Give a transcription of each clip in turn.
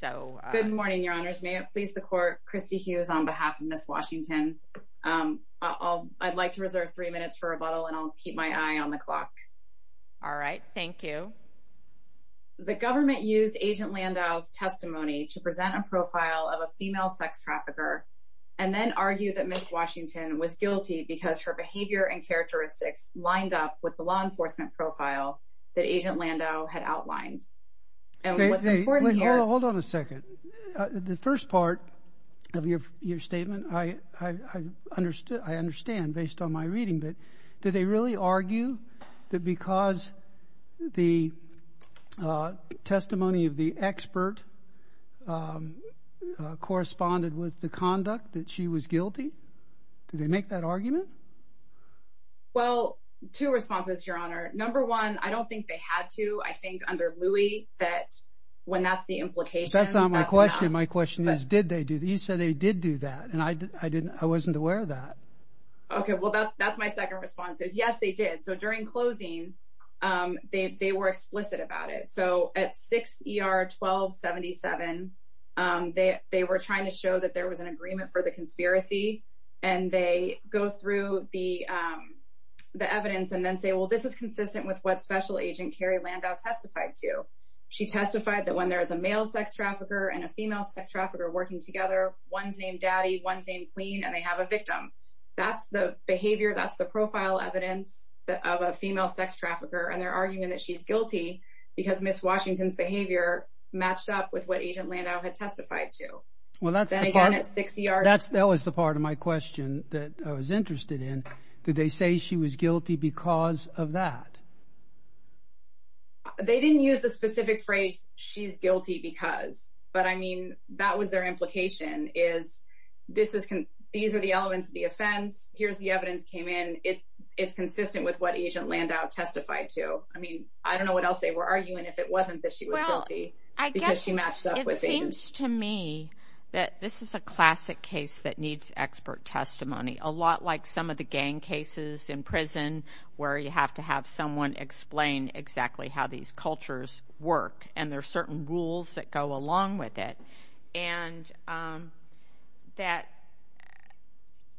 so good morning your honors may it please the court christy hughes on behalf of miss washington um i'll i'd like to reserve three minutes for rebuttal and i'll keep my eye on the clock all right thank you the government used agent landau's testimony to present a profile of a female sex trafficker and then argued that miss washington was guilty because her behavior and characteristics lined up with the law enforcement profile that agent landau had outlined and what's hold on a second the first part of your your statement i i understood i understand based on my reading but did they really argue that because the testimony of the expert corresponded with the conduct that she was guilty did they make that argument well two responses your honor number one i don't think they had to i think under louis that when that's the implication that's not my question my question is did they do these so they did do that and i i didn't i wasn't aware of that okay well that's my second response is yes they did so during closing um they they were explicit about it so at 6 er 12 77 um they they were trying to show that there was an agreement for the conspiracy and they go through the um the evidence and then say well this is consistent with what special agent carrie landau testified to she testified that when there is a male sex trafficker and a female sex trafficker working together one's named daddy one's named queen and they have a victim that's the behavior that's the profile evidence that of a female sex trafficker and they're arguing that she's guilty because miss washington's behavior matched up with what agent landau had testified to well that's then again at six yards that was the part of my question that i was interested in did they say she was guilty because of that they didn't use the specific phrase she's guilty because but i mean that was their implication is this is these are the elements of the offense here's the evidence came in it it's consistent with what agent landau testified to i mean i don't know what else they were arguing if it wasn't that she was guilty i guess she matched up with things to me that this is a classic case that needs expert testimony a lot like some of the gang cases in prison where you have to have someone explain exactly how these cultures work and there are certain rules that go along with it and um that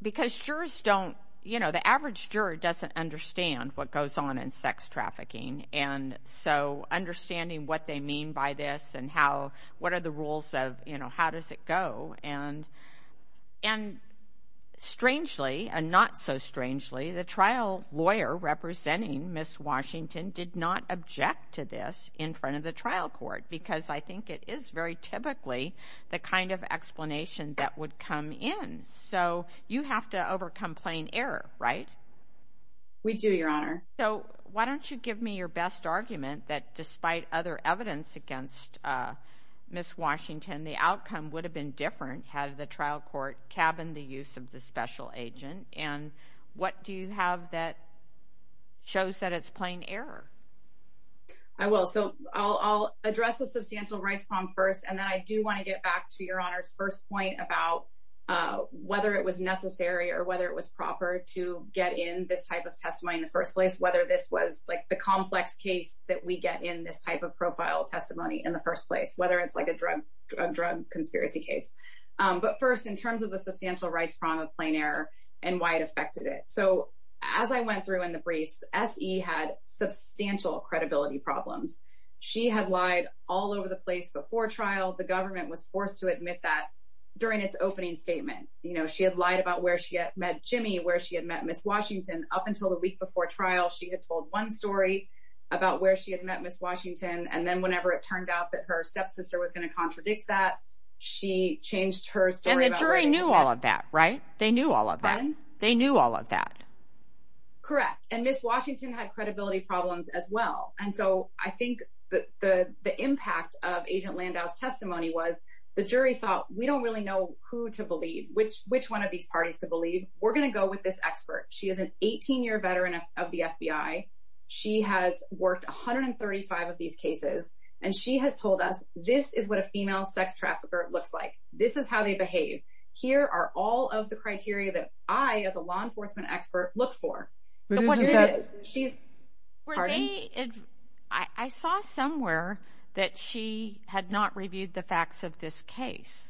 because jurors don't you know the average juror doesn't understand what goes on in sex trafficking and so understanding what they mean by this and how what are the rules of you know how does it go and and strangely and not so strangely the trial lawyer representing miss washington did not object to this in front of the trial court because i think it is very typically the kind of explanation that would come in so you have to overcome plain error right we do your honor so why don't you give me your best argument that despite other evidence against uh miss washington the outcome would have been different had the trial court cabined the use of the special agent and what do you have that shows that it's plain error i will so i'll address the substantial rice palm first and then i do want to get back to your honor's first point about uh whether it was necessary or whether it was proper to get in this type of testimony in the first place whether this was like the complex case that we get in this type of profile testimony in the first place whether it's like a drug drug drug case um but first in terms of the substantial rights problem of plain error and why it affected it so as i went through in the briefs se had substantial credibility problems she had lied all over the place before trial the government was forced to admit that during its opening statement you know she had lied about where she had met jimmy where she had met miss washington up until the week before trial she had told one story about where she had met miss washington and then whenever it turned out that her stepsister was going to contradict that she changed her story and the jury knew all of that right they knew all of that they knew all of that correct and miss washington had credibility problems as well and so i think that the the impact of agent landau's testimony was the jury thought we don't really know who to believe which which one of these parties to believe we're going to go with this expert she is an 18-year veteran of the fbi she has worked 135 of these cases and she has told us this is what a female sex trafficker looks like this is how they behave here are all of the criteria that i as a law enforcement expert look for what it is she's where they i saw somewhere that she had not reviewed the facts of this case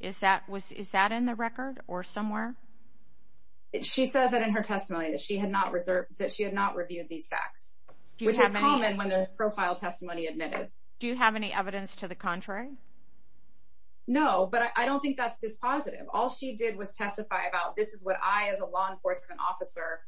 is that was is that in the record or somewhere if she says that in her testimony that she had not reserved that she had not reviewed these facts which is common when there's profile testimony admitted do you have any evidence to the contrary no but i don't think that's dispositive all she did was testify about this is what i as a law enforcement officer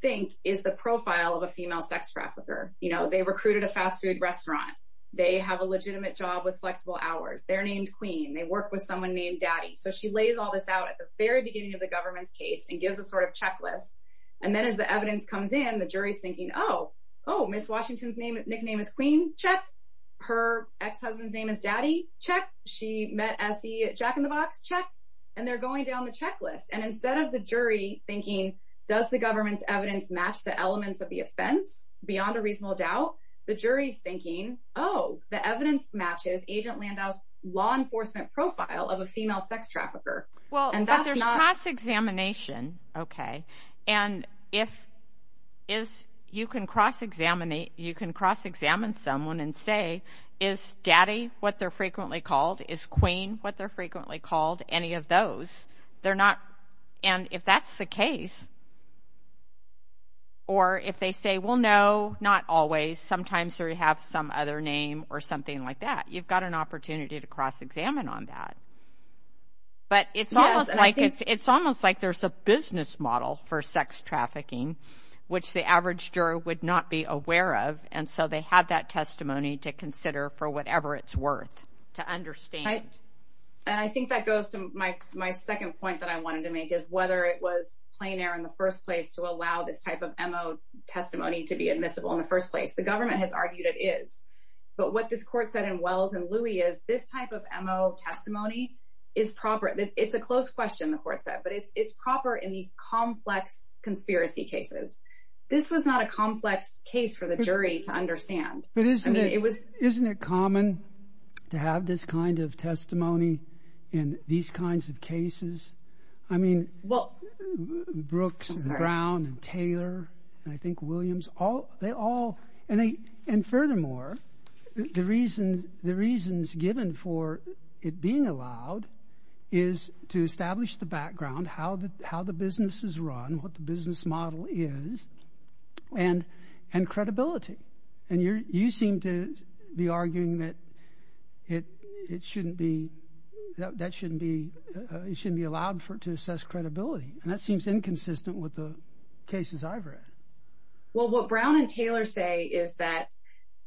think is the profile of a female sex trafficker you know they recruited a fast food restaurant they have a legitimate job with flexible hours they're named queen they work with someone named daddy so she lays all this out at the very beginning of the government's case and gives a sort of checklist and then as the evidence comes in the jury's thinking oh oh miss washington's name nickname is queen check her ex-husband's name is daddy check she met as the jack-in-the-box check and they're going down the checklist and instead of the jury thinking does the government's evidence match the elements of the offense beyond a reasonable doubt the jury's oh the evidence matches agent landau's law enforcement profile of a female sex trafficker well and there's cross-examination okay and if is you can cross-examine you can cross-examine someone and say is daddy what they're frequently called is queen what they're frequently called any of those they're not and if that's the case or if they say well no not always sometimes or you have some other name or something like that you've got an opportunity to cross-examine on that but it's almost like it's almost like there's a business model for sex trafficking which the average juror would not be aware of and so they have that testimony to consider for whatever it's worth to understand and i think that goes to my my second point that i wanted to make is whether it was plein air in the first place to allow this type of mo testimony to be admissible in the first place the government has argued it is but what this court said in wells and louis is this type of mo testimony is proper it's a close question the court said but it's it's proper in these complex conspiracy cases this was not a complex case for the jury to understand but isn't it it was isn't it common to have this kind of all they all and they and furthermore the reason the reasons given for it being allowed is to establish the background how the how the business is run what the business model is and and credibility and you're you seem to be arguing that it it shouldn't be that shouldn't be it shouldn't be allowed for it to assess credibility and that seems inconsistent with the cases i've read well what brown and taylor say is that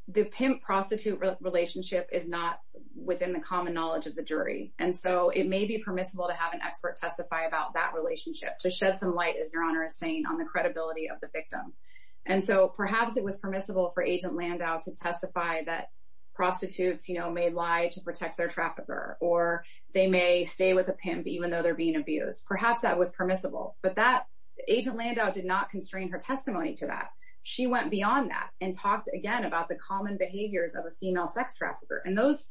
the pimp prostitute relationship is not within the common knowledge of the jury and so it may be permissible to have an expert testify about that relationship to shed some light as your honor is saying on the credibility of the victim and so perhaps it was permissible for agent landau to testify that prostitutes you know may lie to protect their trafficker or they may stay with a pimp even though they're being abused perhaps that was permissible but that agent landau did not constrain her testimony to that she went beyond that and talked again about the common behaviors of a female sex trafficker and those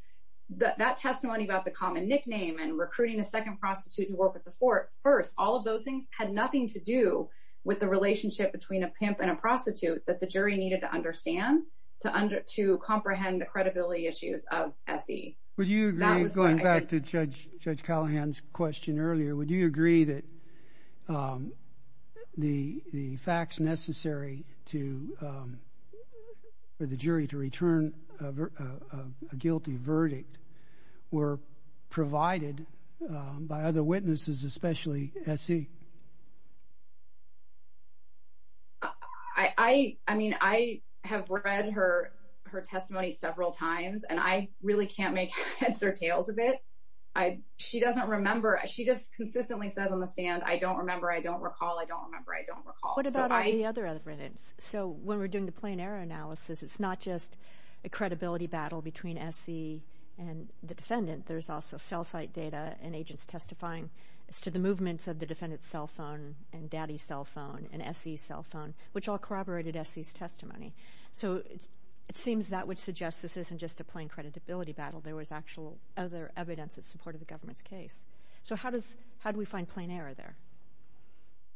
that that testimony about the common nickname and recruiting a second prostitute to work with the fourth first all of those things had nothing to do with the relationship between a pimp and a prostitute that the jury needed to understand to under to comprehend the credibility issues of se would you going back to judge judge callahan's question earlier would you agree that the the facts necessary to um for the jury to return a guilty verdict were provided by other witnesses especially se i i i mean i have read her her testimony several times and i really can't make heads or tails of it i she doesn't remember she just consistently says on the stand i don't remember i don't recall i don't remember i don't recall what about any other evidence so when we're doing the plain error analysis it's not just a credibility battle between se and the defendant there's also cell site data and agents testifying as to the movements of the defendant's cell phone and daddy's cell phone and se cell phone which all corroborated se's testimony so it's it seems that which suggests this isn't just a plain creditability battle there was actual other evidence in support of the government's case so how does how do we find plain error there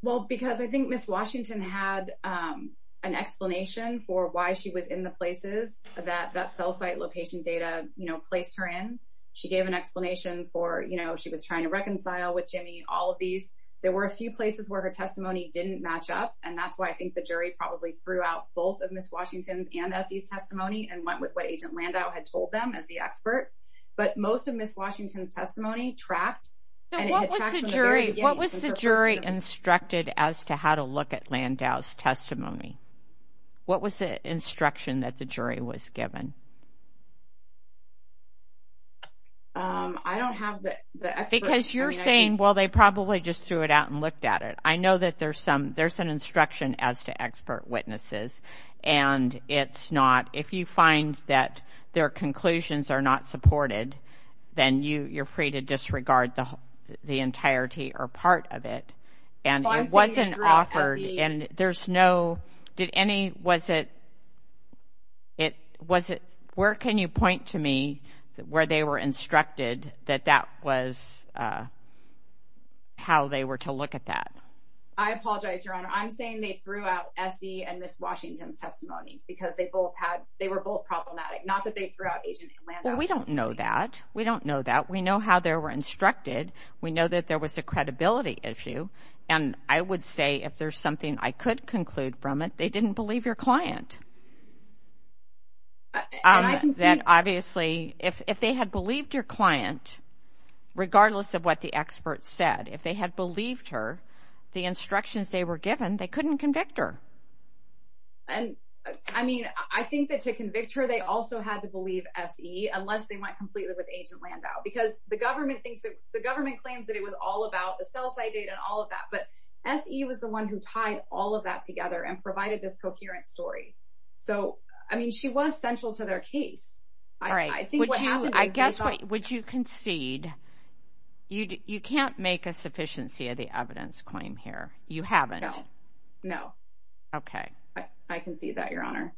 well because i think miss washington had um an explanation for why she was in the places that that cell site location data you know placed her in she gave an explanation for you know she was trying to reconcile with jimmy all of these there were a few places where her testimony didn't match up and that's why i think the jury probably threw out both of miss washington's and se's testimony and went with what agent landau had told them as the expert but most of miss washington's testimony trapped what was the jury what was the jury instructed as to how to look at landau's given um i don't have the because you're saying well they probably just threw it out and looked at it i know that there's some there's an instruction as to expert witnesses and it's not if you find that their conclusions are not supported then you you're free to disregard the entirety or part of it and it wasn't offered and there's no did any was it it was it where can you point to me where they were instructed that that was uh how they were to look at that i apologize your honor i'm saying they threw out se and miss washington's testimony because they both had they were both problematic not that they threw out we don't know that we don't know that we know how they were instructed we know that there was a credibility issue and i would say if there's something i could conclude from it they didn't believe your client um that obviously if if they had believed your client regardless of what the experts said if they had believed her the instructions they were given they couldn't convict her and i mean i think that to convict her they also had to believe se unless they went completely with agent landau because the government thinks that the government claims that it was all about the sell side data and all of that but se was the one who tied all of that together and provided this coherent story so i mean she was central to their case all right i think what happened i guess what would you concede you you can't make a sufficiency of the evidence claim here you haven't no okay i i can see that your honor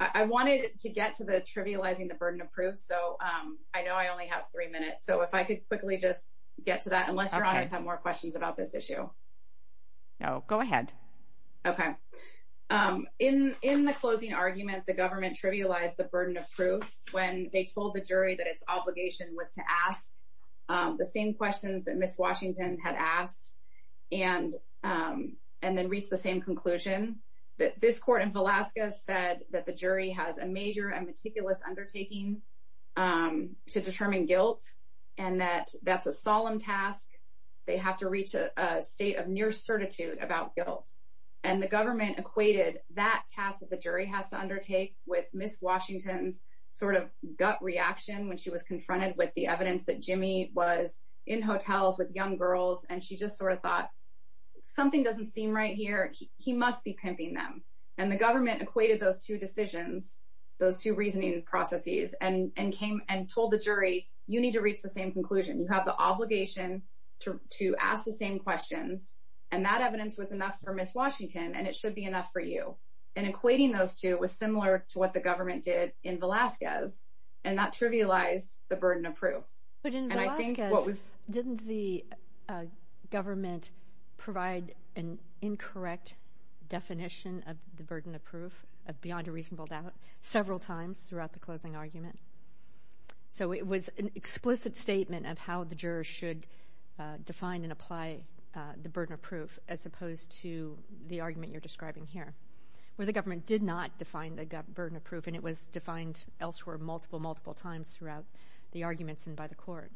i wanted to get to the trivializing the burden of proof so um i know i only have three minutes so if i could quickly just get to that unless your honors have more questions about this issue no go ahead okay um in in the closing argument the government trivialized the burden of proof when they told the jury that its obligation was to ask um the same questions that miss washington had asked and um and then reached the same conclusion that this court in alaska said that the jury has a major and meticulous undertaking um to determine guilt and that that's a solemn task they have to reach a state of near certitude about guilt and the government equated that task that the jury has to undertake with miss sort of gut reaction when she was confronted with the evidence that jimmy was in hotels with young girls and she just sort of thought something doesn't seem right here he must be pimping them and the government equated those two decisions those two reasoning processes and and came and told the jury you need to reach the same conclusion you have the obligation to to ask the same questions and that evidence was enough for miss washington and it should be enough for you and equating those two was similar to what the government did in alaska's and that trivialized the burden of proof but in alaska didn't the government provide an incorrect definition of the burden of proof of beyond a reasonable doubt several times throughout the closing argument so it was an explicit statement of how the jurors should define and apply the burden of the government did not define the burden of proof and it was defined elsewhere multiple multiple times throughout the arguments and by the court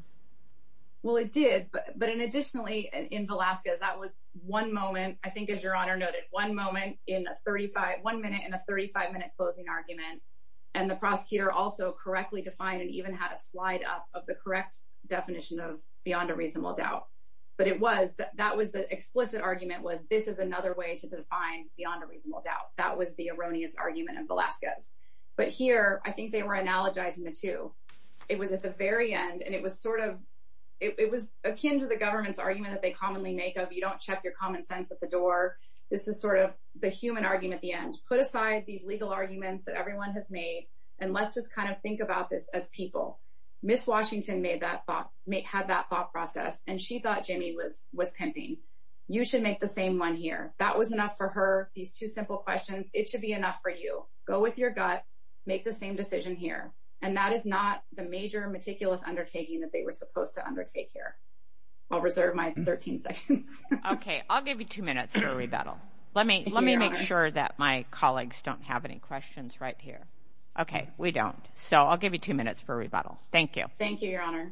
well it did but but in additionally in alaska that was one moment i think as your honor noted one moment in a 35 one minute in a 35 minute closing argument and the prosecutor also correctly defined and even had a slide up of the correct definition of beyond a reasonable doubt but it was that was the explicit argument was this is another way to define beyond a reasonable doubt that was the erroneous argument of alaska's but here i think they were analogizing the two it was at the very end and it was sort of it was akin to the government's argument that they commonly make of you don't check your common sense at the door this is sort of the human argument the end put aside these legal arguments that everyone has made and let's just kind of think about this as people miss washington made that had that thought process and she thought jimmy was was pimping you should make the same one here that was enough for her these two simple questions it should be enough for you go with your gut make the same decision here and that is not the major meticulous undertaking that they were supposed to undertake here i'll reserve my 13 seconds okay i'll give you two minutes for rebuttal let me let me make sure that my colleagues don't have any questions right here okay we don't so i'll give you two minutes for rebuttal thank you thank you your honor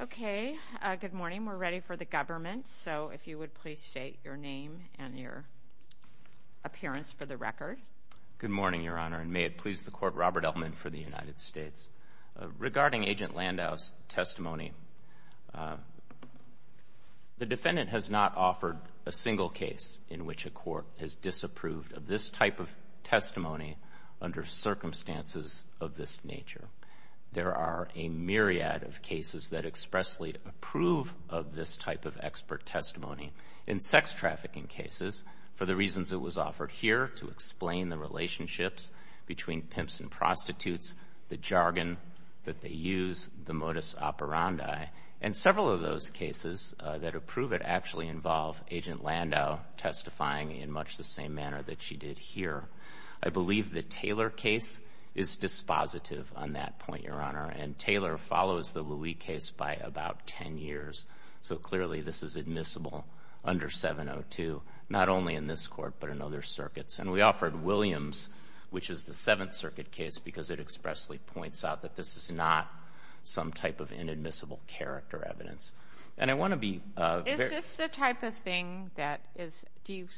okay uh good morning we're ready for the government so if you would please state your name and your appearance for the record good morning your honor and may it please the court robert elman for the united states regarding agent landau's testimony the defendant has not offered a single case in which a court has disapproved of this type of testimony under circumstances of this nature there are a myriad of cases that expressly approve of this type of expert testimony in sex trafficking cases for the reasons it was offered here to explain the relationships between pimps and prostitutes the jargon that they use the modus operandi and several of those cases that approve it actually involve agent landau testifying in much the same manner that she did here i believe the taylor case is dispositive on that point your honor and taylor follows the louis case by about 10 years so clearly this is admissible under 702 not only in this court but in other circuits and we offered williams which is the seventh circuit case because it expressly points out that this is not some type of inadmissible character evidence and i want to be uh is this the type of thing that is do you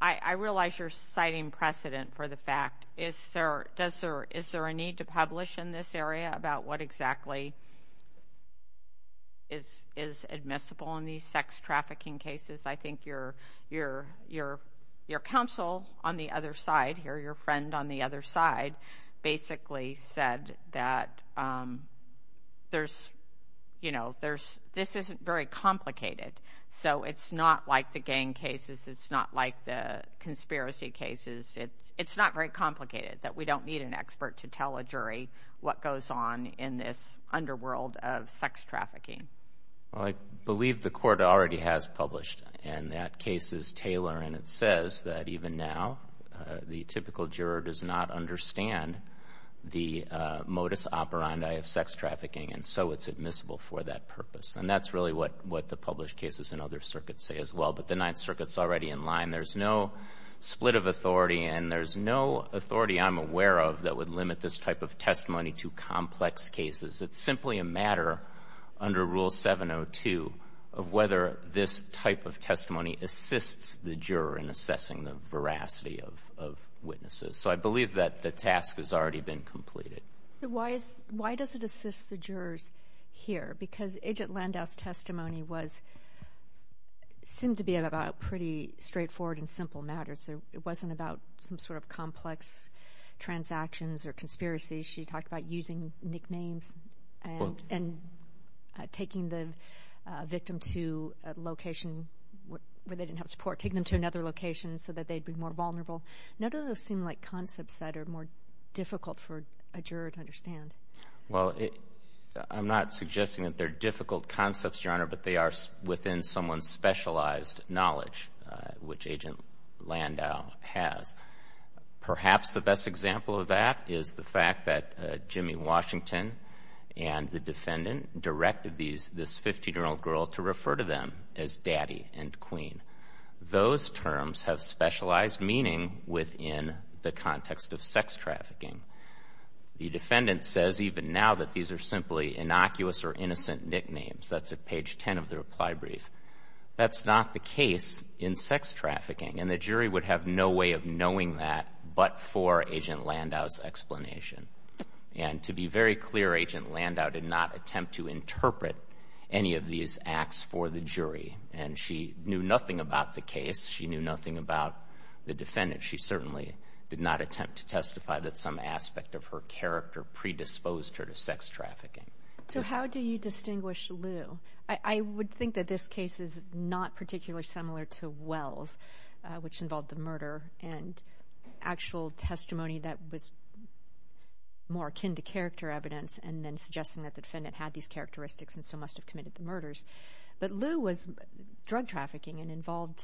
i i realize you're citing precedent for the fact is there does there is there a need to publish in this area about what exactly is is admissible in these sex trafficking cases i think your your your your counsel on the other side basically said that um there's you know there's this isn't very complicated so it's not like the gang cases it's not like the conspiracy cases it's it's not very complicated that we don't need an expert to tell a jury what goes on in this underworld of sex trafficking well i believe the court already has published and that case is taylor and it says that even now the typical juror does not understand the modus operandi of sex trafficking and so it's admissible for that purpose and that's really what what the published cases in other circuits say as well but the ninth circuit's already in line there's no split of authority and there's no authority i'm aware of that would limit this type of testimony to complex cases it's simply a matter under rule 702 of whether this type of testimony assists the juror in assessing the veracity of of witnesses so i believe that the task has already been completed why is why does it assist the jurors here because agent landau's testimony was seemed to be about pretty straightforward and simple matters so it wasn't about some sort of complex transactions or conspiracies she talked about using nicknames and and taking the victim to a location where they didn't have support taking them to another location so that they'd be more vulnerable none of those seem like concepts that are more difficult for a juror to understand well i'm not suggesting that they're difficult concepts your honor but they are within someone's specialized knowledge which agent landau has perhaps the best example of that is the fact that jimmy washington and the defendant directed these this 15 year old girl to refer to them as daddy and queen those terms have specialized meaning within the context of sex trafficking the defendant says even now that these are simply innocuous or innocent nicknames that's at page 10 of the reply brief that's not the case in sex that but for agent landau's explanation and to be very clear agent landau did not attempt to interpret any of these acts for the jury and she knew nothing about the case she knew nothing about the defendant she certainly did not attempt to testify that some aspect of her character predisposed her to sex trafficking so how do you distinguish lou i i would think that this case is not particularly similar to wells which involved the murder and actual testimony that was more akin to character evidence and then suggesting that the defendant had these characteristics and so must have committed the murders but lou was drug trafficking and involved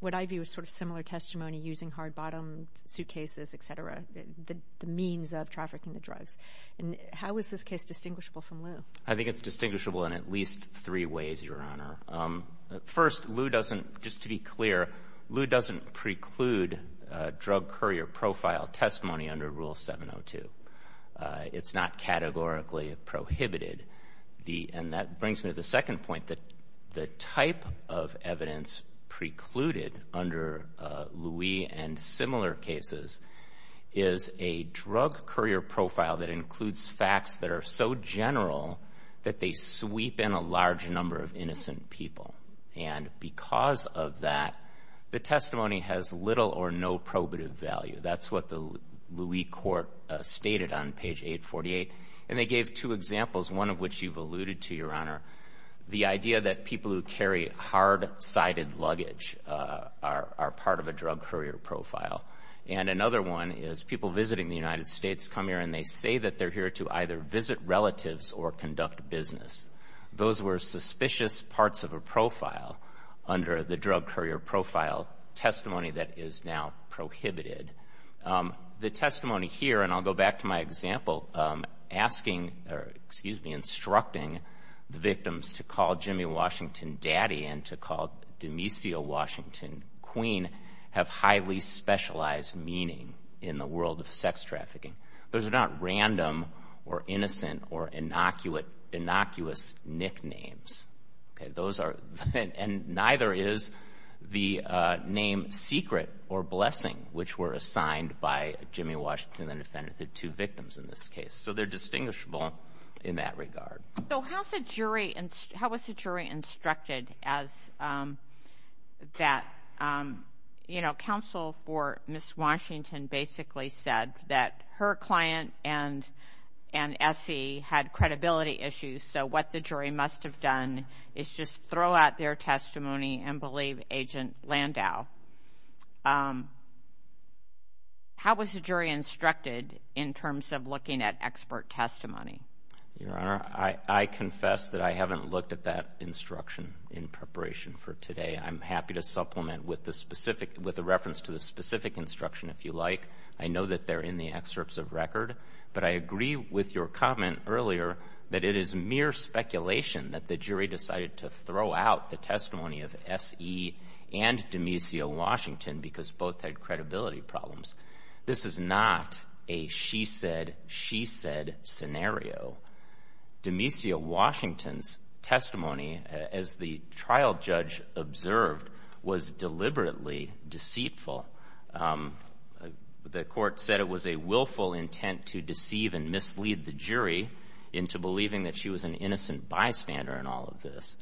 what ivy was sort of similar testimony using hard bottom suitcases etc the means of trafficking the drugs and how is this case distinguishable from lou i think it's distinguishable in at least three ways your honor um first lou doesn't just to be clear lou doesn't preclude drug courier profile testimony under rule 702 it's not categorically prohibited the and that brings me to the second point that the type of evidence precluded under louis and similar cases is a drug courier profile that includes facts that are so general that they sweep in a large number of innocent people and because of that the testimony has little or no probative value that's what the louis court stated on page 848 and they gave two examples one of which you've alluded to your honor the idea that people who carry hard-sided luggage are are part of a drug courier profile and another one is people visiting the united states come here and they say that they're here to either visit relatives or conduct business those were suspicious parts of a profile under the drug courier profile testimony that is now prohibited um the testimony here and i'll go back to my example um asking or excuse me instructing the victims to call jimmy washington daddy and to call demisio washington queen have highly specialized meaning in the world of sex trafficking those are not random or innocent or innocuous innocuous nicknames okay those are and neither is the uh name secret or blessing which were assigned by jimmy washington the defendant the two victims in this case so they're distinguishable in that regard so how's the um that um you know counsel for miss washington basically said that her client and and se had credibility issues so what the jury must have done is just throw out their testimony and believe agent landau um how was the jury instructed in terms of looking at expert testimony your honor i i confess that i haven't looked at that instruction in preparation for today i'm happy to supplement with the specific with the reference to the specific instruction if you like i know that they're in the excerpts of record but i agree with your comment earlier that it is mere speculation that the jury decided to throw out the testimony of se and demisio washington because both had credibility problems this is not a she said she said scenario demisio washington's testimony as the trial judge observed was deliberately deceitful um the court said it was a willful intent to deceive and mislead the jury into believing that she was an innocent bystander in all of this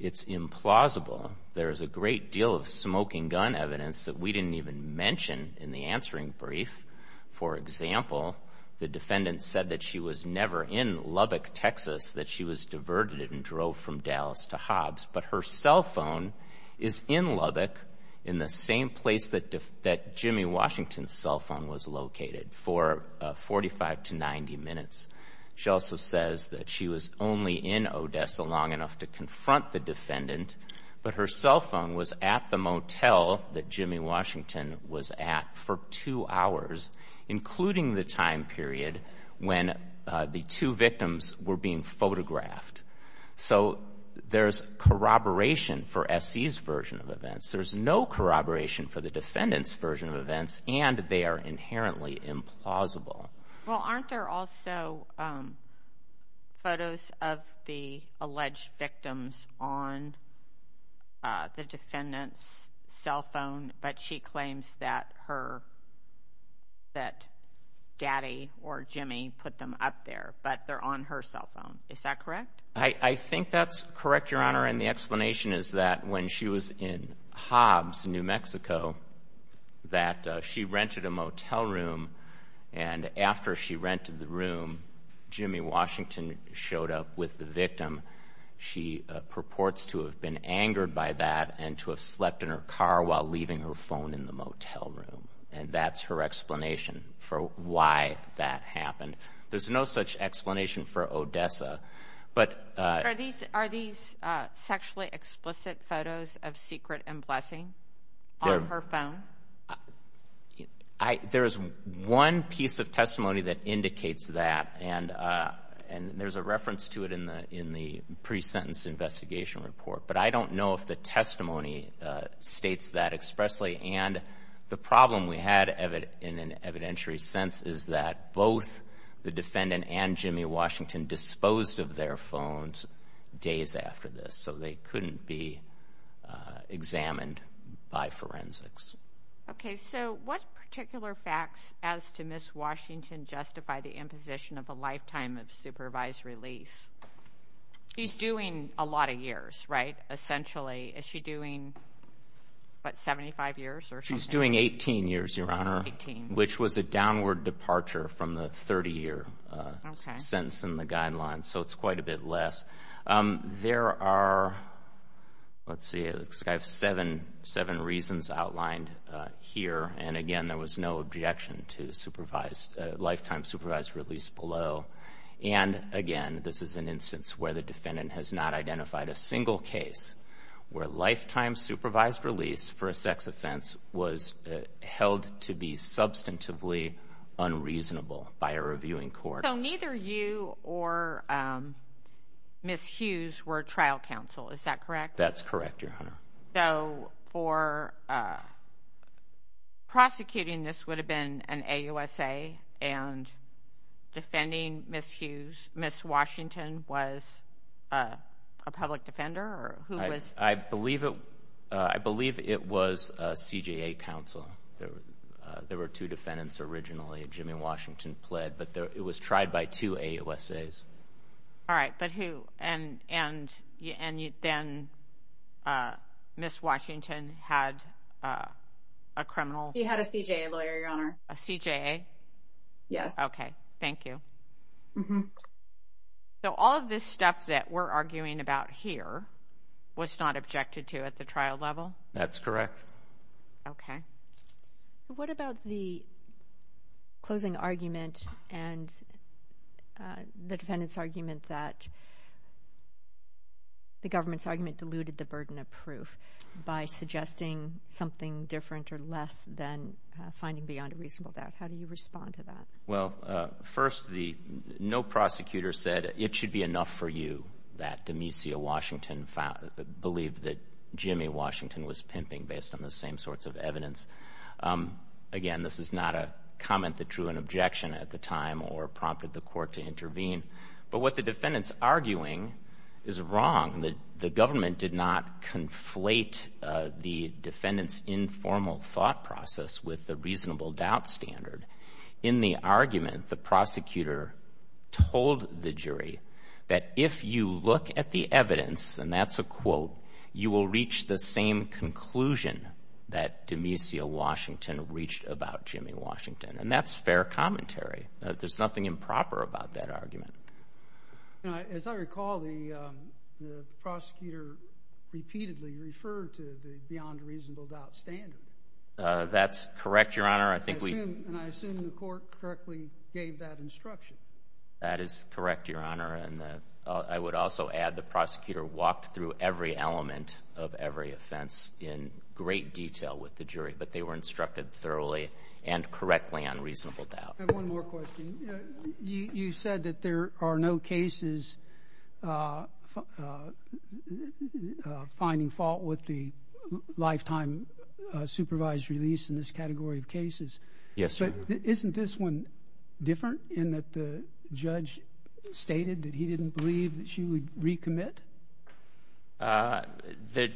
it's implausible there is a great deal of smoking gun evidence that we didn't even mention in the answering brief for example the defendant said that she was never in lubbock texas that she was diverted and drove from dallas to hobbs but her cell phone is in lubbock in the same place that that jimmy washington's cell phone was located for 45 to 90 minutes she also says that she was only in odessa long enough to confront the defendant but her cell phone was at the motel that jimmy washington was at for two hours including the time period when the two victims were being photographed so there's corroboration for se's version of events there's no corroboration for the defendant's version of events and they are inherently implausible well aren't there also um photos of the alleged victims on uh the defendant's cell phone but she claims that her that daddy or jimmy put them up there but they're on her cell phone is that correct i i think that's correct your honor and the and after she rented the room jimmy washington showed up with the victim she purports to have been angered by that and to have slept in her car while leaving her phone in the motel room and that's her explanation for why that happened there's no such explanation for odessa but uh are these are these uh sexually explicit photos of secret and blessing on her phone i i there is one piece of testimony that indicates that and uh and there's a reference to it in the in the pre-sentence investigation report but i don't know if the testimony uh states that expressly and the problem we had evident in an evidentiary sense is that both the defendant and jimmy washington disposed of their phones days after this so they couldn't be examined by forensics okay so what particular facts as to miss washington justify the imposition of a lifetime of supervised release he's doing a lot of years right essentially is she doing what 75 years or she's doing 18 years your honor 18 which was a downward departure from the 30 year sentence in the guidelines so it's quite a bit less um there are let's see i have seven seven reasons outlined uh here and again there was no objection to supervised lifetime supervised release below and again this is an instance where the defendant has not identified a single case where lifetime supervised release for a sex offense was held to be substantively unreasonable by a reviewing court so neither you or um miss hughes were trial counsel is that correct that's for uh prosecuting this would have been an ausa and defending miss hughes miss washington was a public defender or who was i believe it uh i believe it was a cja counsel there were two defendants originally jimmy washington pled but there it was tried by two a usas all right but and and and you then uh miss washington had uh a criminal he had a cja lawyer your honor a cja yes okay thank you so all of this stuff that we're arguing about here was not objected to at the trial level that's correct okay so what about the closing argument and the defendant's argument that the government's argument diluted the burden of proof by suggesting something different or less than finding beyond a reasonable doubt how do you respond to that well uh first the no prosecutor said it should be enough for you that demisio washington found believed that jimmy washington was pimping based on the same sorts of evidence um again this is not a comment that drew an objection at the time or prompted the court to intervene but what the defendant's arguing is wrong that the government did not conflate the defendant's informal thought process with the reasonable doubt standard in the argument the prosecutor told the jury that if you look at the evidence and that's a quote you will reach the same conclusion that demisio washington reached about jimmy washington and that's fair commentary that there's nothing improper about that argument you know as i recall the um the prosecutor repeatedly referred to the beyond reasonable doubt standard uh that's correct your honor i think we and i assume the court correctly gave that instruction that is correct your honor and i would also add the prosecutor walked through every element of every offense in great detail with the jury but they were instructed thoroughly and correctly on reasonable doubt one more question you said that there are no cases finding fault with the lifetime supervised release in this category of cases yes but isn't this one different in that the judge stated that he didn't believe that she would commit uh that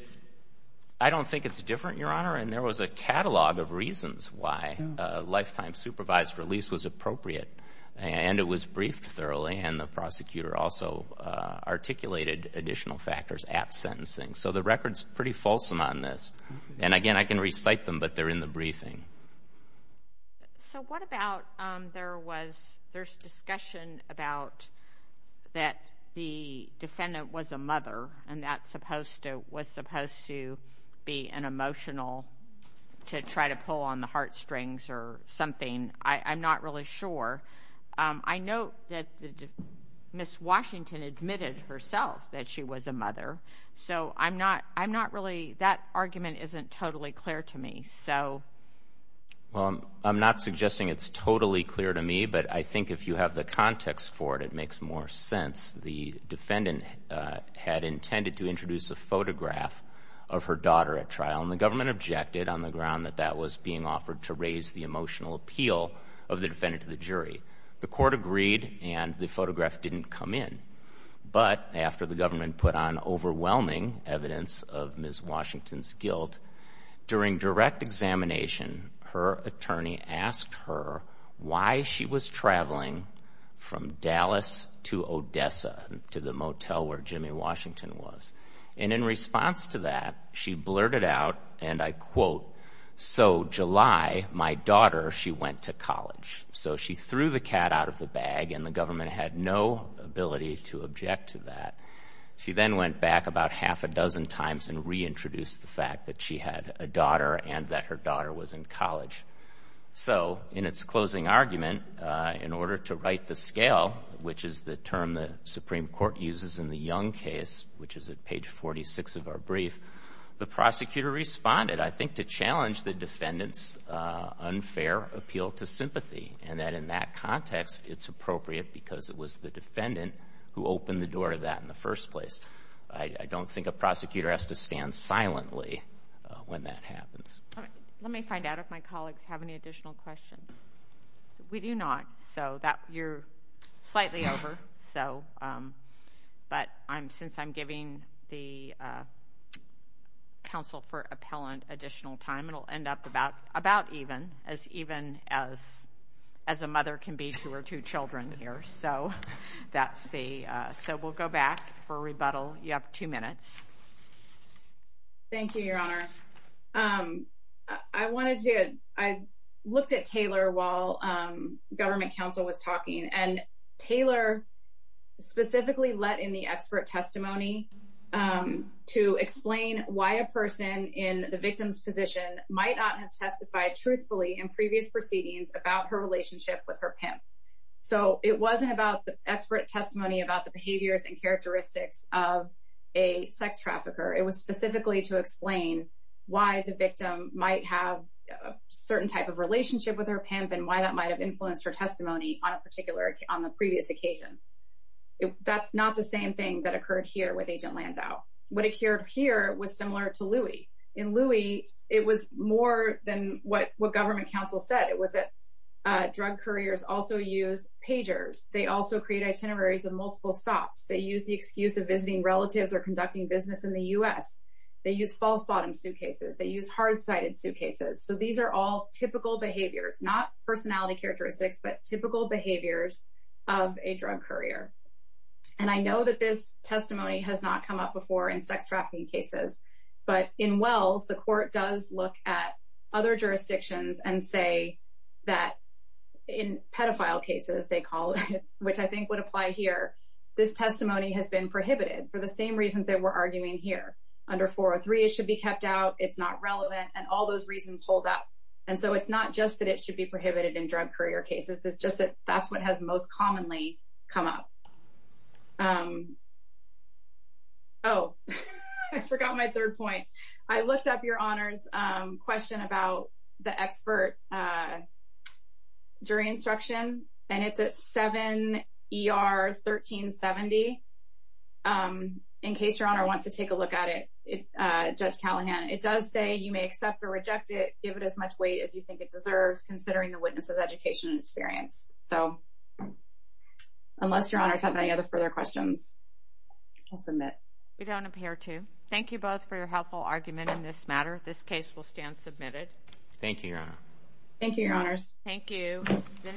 i don't think it's different your honor and there was a catalog of reasons why a lifetime supervised release was appropriate and it was briefed thoroughly and the prosecutor also uh articulated additional factors at sentencing so the record's pretty fulsome on this and again i can recite them but they're in the briefing so what about um there was there's about that the defendant was a mother and that's supposed to was supposed to be an emotional to try to pull on the heartstrings or something i i'm not really sure um i know that the miss washington admitted herself that she was a mother so i'm not i'm not really that argument isn't totally clear to me so well i'm not suggesting it's totally clear to me but i think you have the context for it it makes more sense the defendant had intended to introduce a photograph of her daughter at trial and the government objected on the ground that that was being offered to raise the emotional appeal of the defendant to the jury the court agreed and the photograph didn't come in but after the government put on overwhelming evidence of from dallas to odessa to the motel where jimmy washington was and in response to that she blurted out and i quote so july my daughter she went to college so she threw the cat out of the bag and the government had no ability to object to that she then went back about half a dozen times and reintroduced the fact that she had a daughter and that her daughter was in college so in its argument uh in order to write the scale which is the term the supreme court uses in the young case which is at page 46 of our brief the prosecutor responded i think to challenge the defendant's uh unfair appeal to sympathy and that in that context it's appropriate because it was the defendant who opened the door to that in the first place i don't think a prosecutor has to stand silently when that happens let me find out if my colleagues have any additional questions we do not so that you're slightly over so um but i'm since i'm giving the uh counsel for appellant additional time it'll end up about about even as even as as a mother can be two or two children here so that's the uh so we'll go back for a rebuttal you have two minutes thank you your honor um i wanted to i looked at taylor while um government council was talking and taylor specifically let in the expert testimony um to explain why a person in the victim's position might not have testified truthfully in previous proceedings about her relationship with her pimp so it wasn't about the expert testimony about the behaviors and it wasn't about her testimony to explain why the victim might have a certain type of relationship with her pimp and why that might have influenced her testimony on a particular on the previous occasion that's not the same thing that occurred here with agent landau what occurred here was similar to louis in louis it was more than what what government council said it was that drug couriers also use pagers they also create itineraries of multiple stops they use the excuse of visiting relatives or conducting business in the u.s they use false bottom suitcases they use hard-sided suitcases so these are all typical behaviors not personality characteristics but typical behaviors of a drug courier and i know that this testimony has not come up before in sex trafficking cases but in wells the court does look at other jurisdictions and say that in pedophile cases they call it which i think would apply here this testimony has been prohibited for the same reasons that we're arguing here under 403 it should be kept out it's not relevant and all those reasons hold up and so it's not just that it should be prohibited in drug courier cases it's just that that's what has most commonly come up um oh i forgot my third point i looked up your honors um question about the expert uh jury instruction and it's at 7 er 1370 um in case your honor wants to take a look at it uh judge callahan it does say you may accept or reject it give it as much weight as you think it deserves considering the witness's education experience so unless your honors have any other further questions i'll submit we don't appear to thank you both for your helpful argument in this matter this case will stand submitted thank you your honor thank you your honors thank you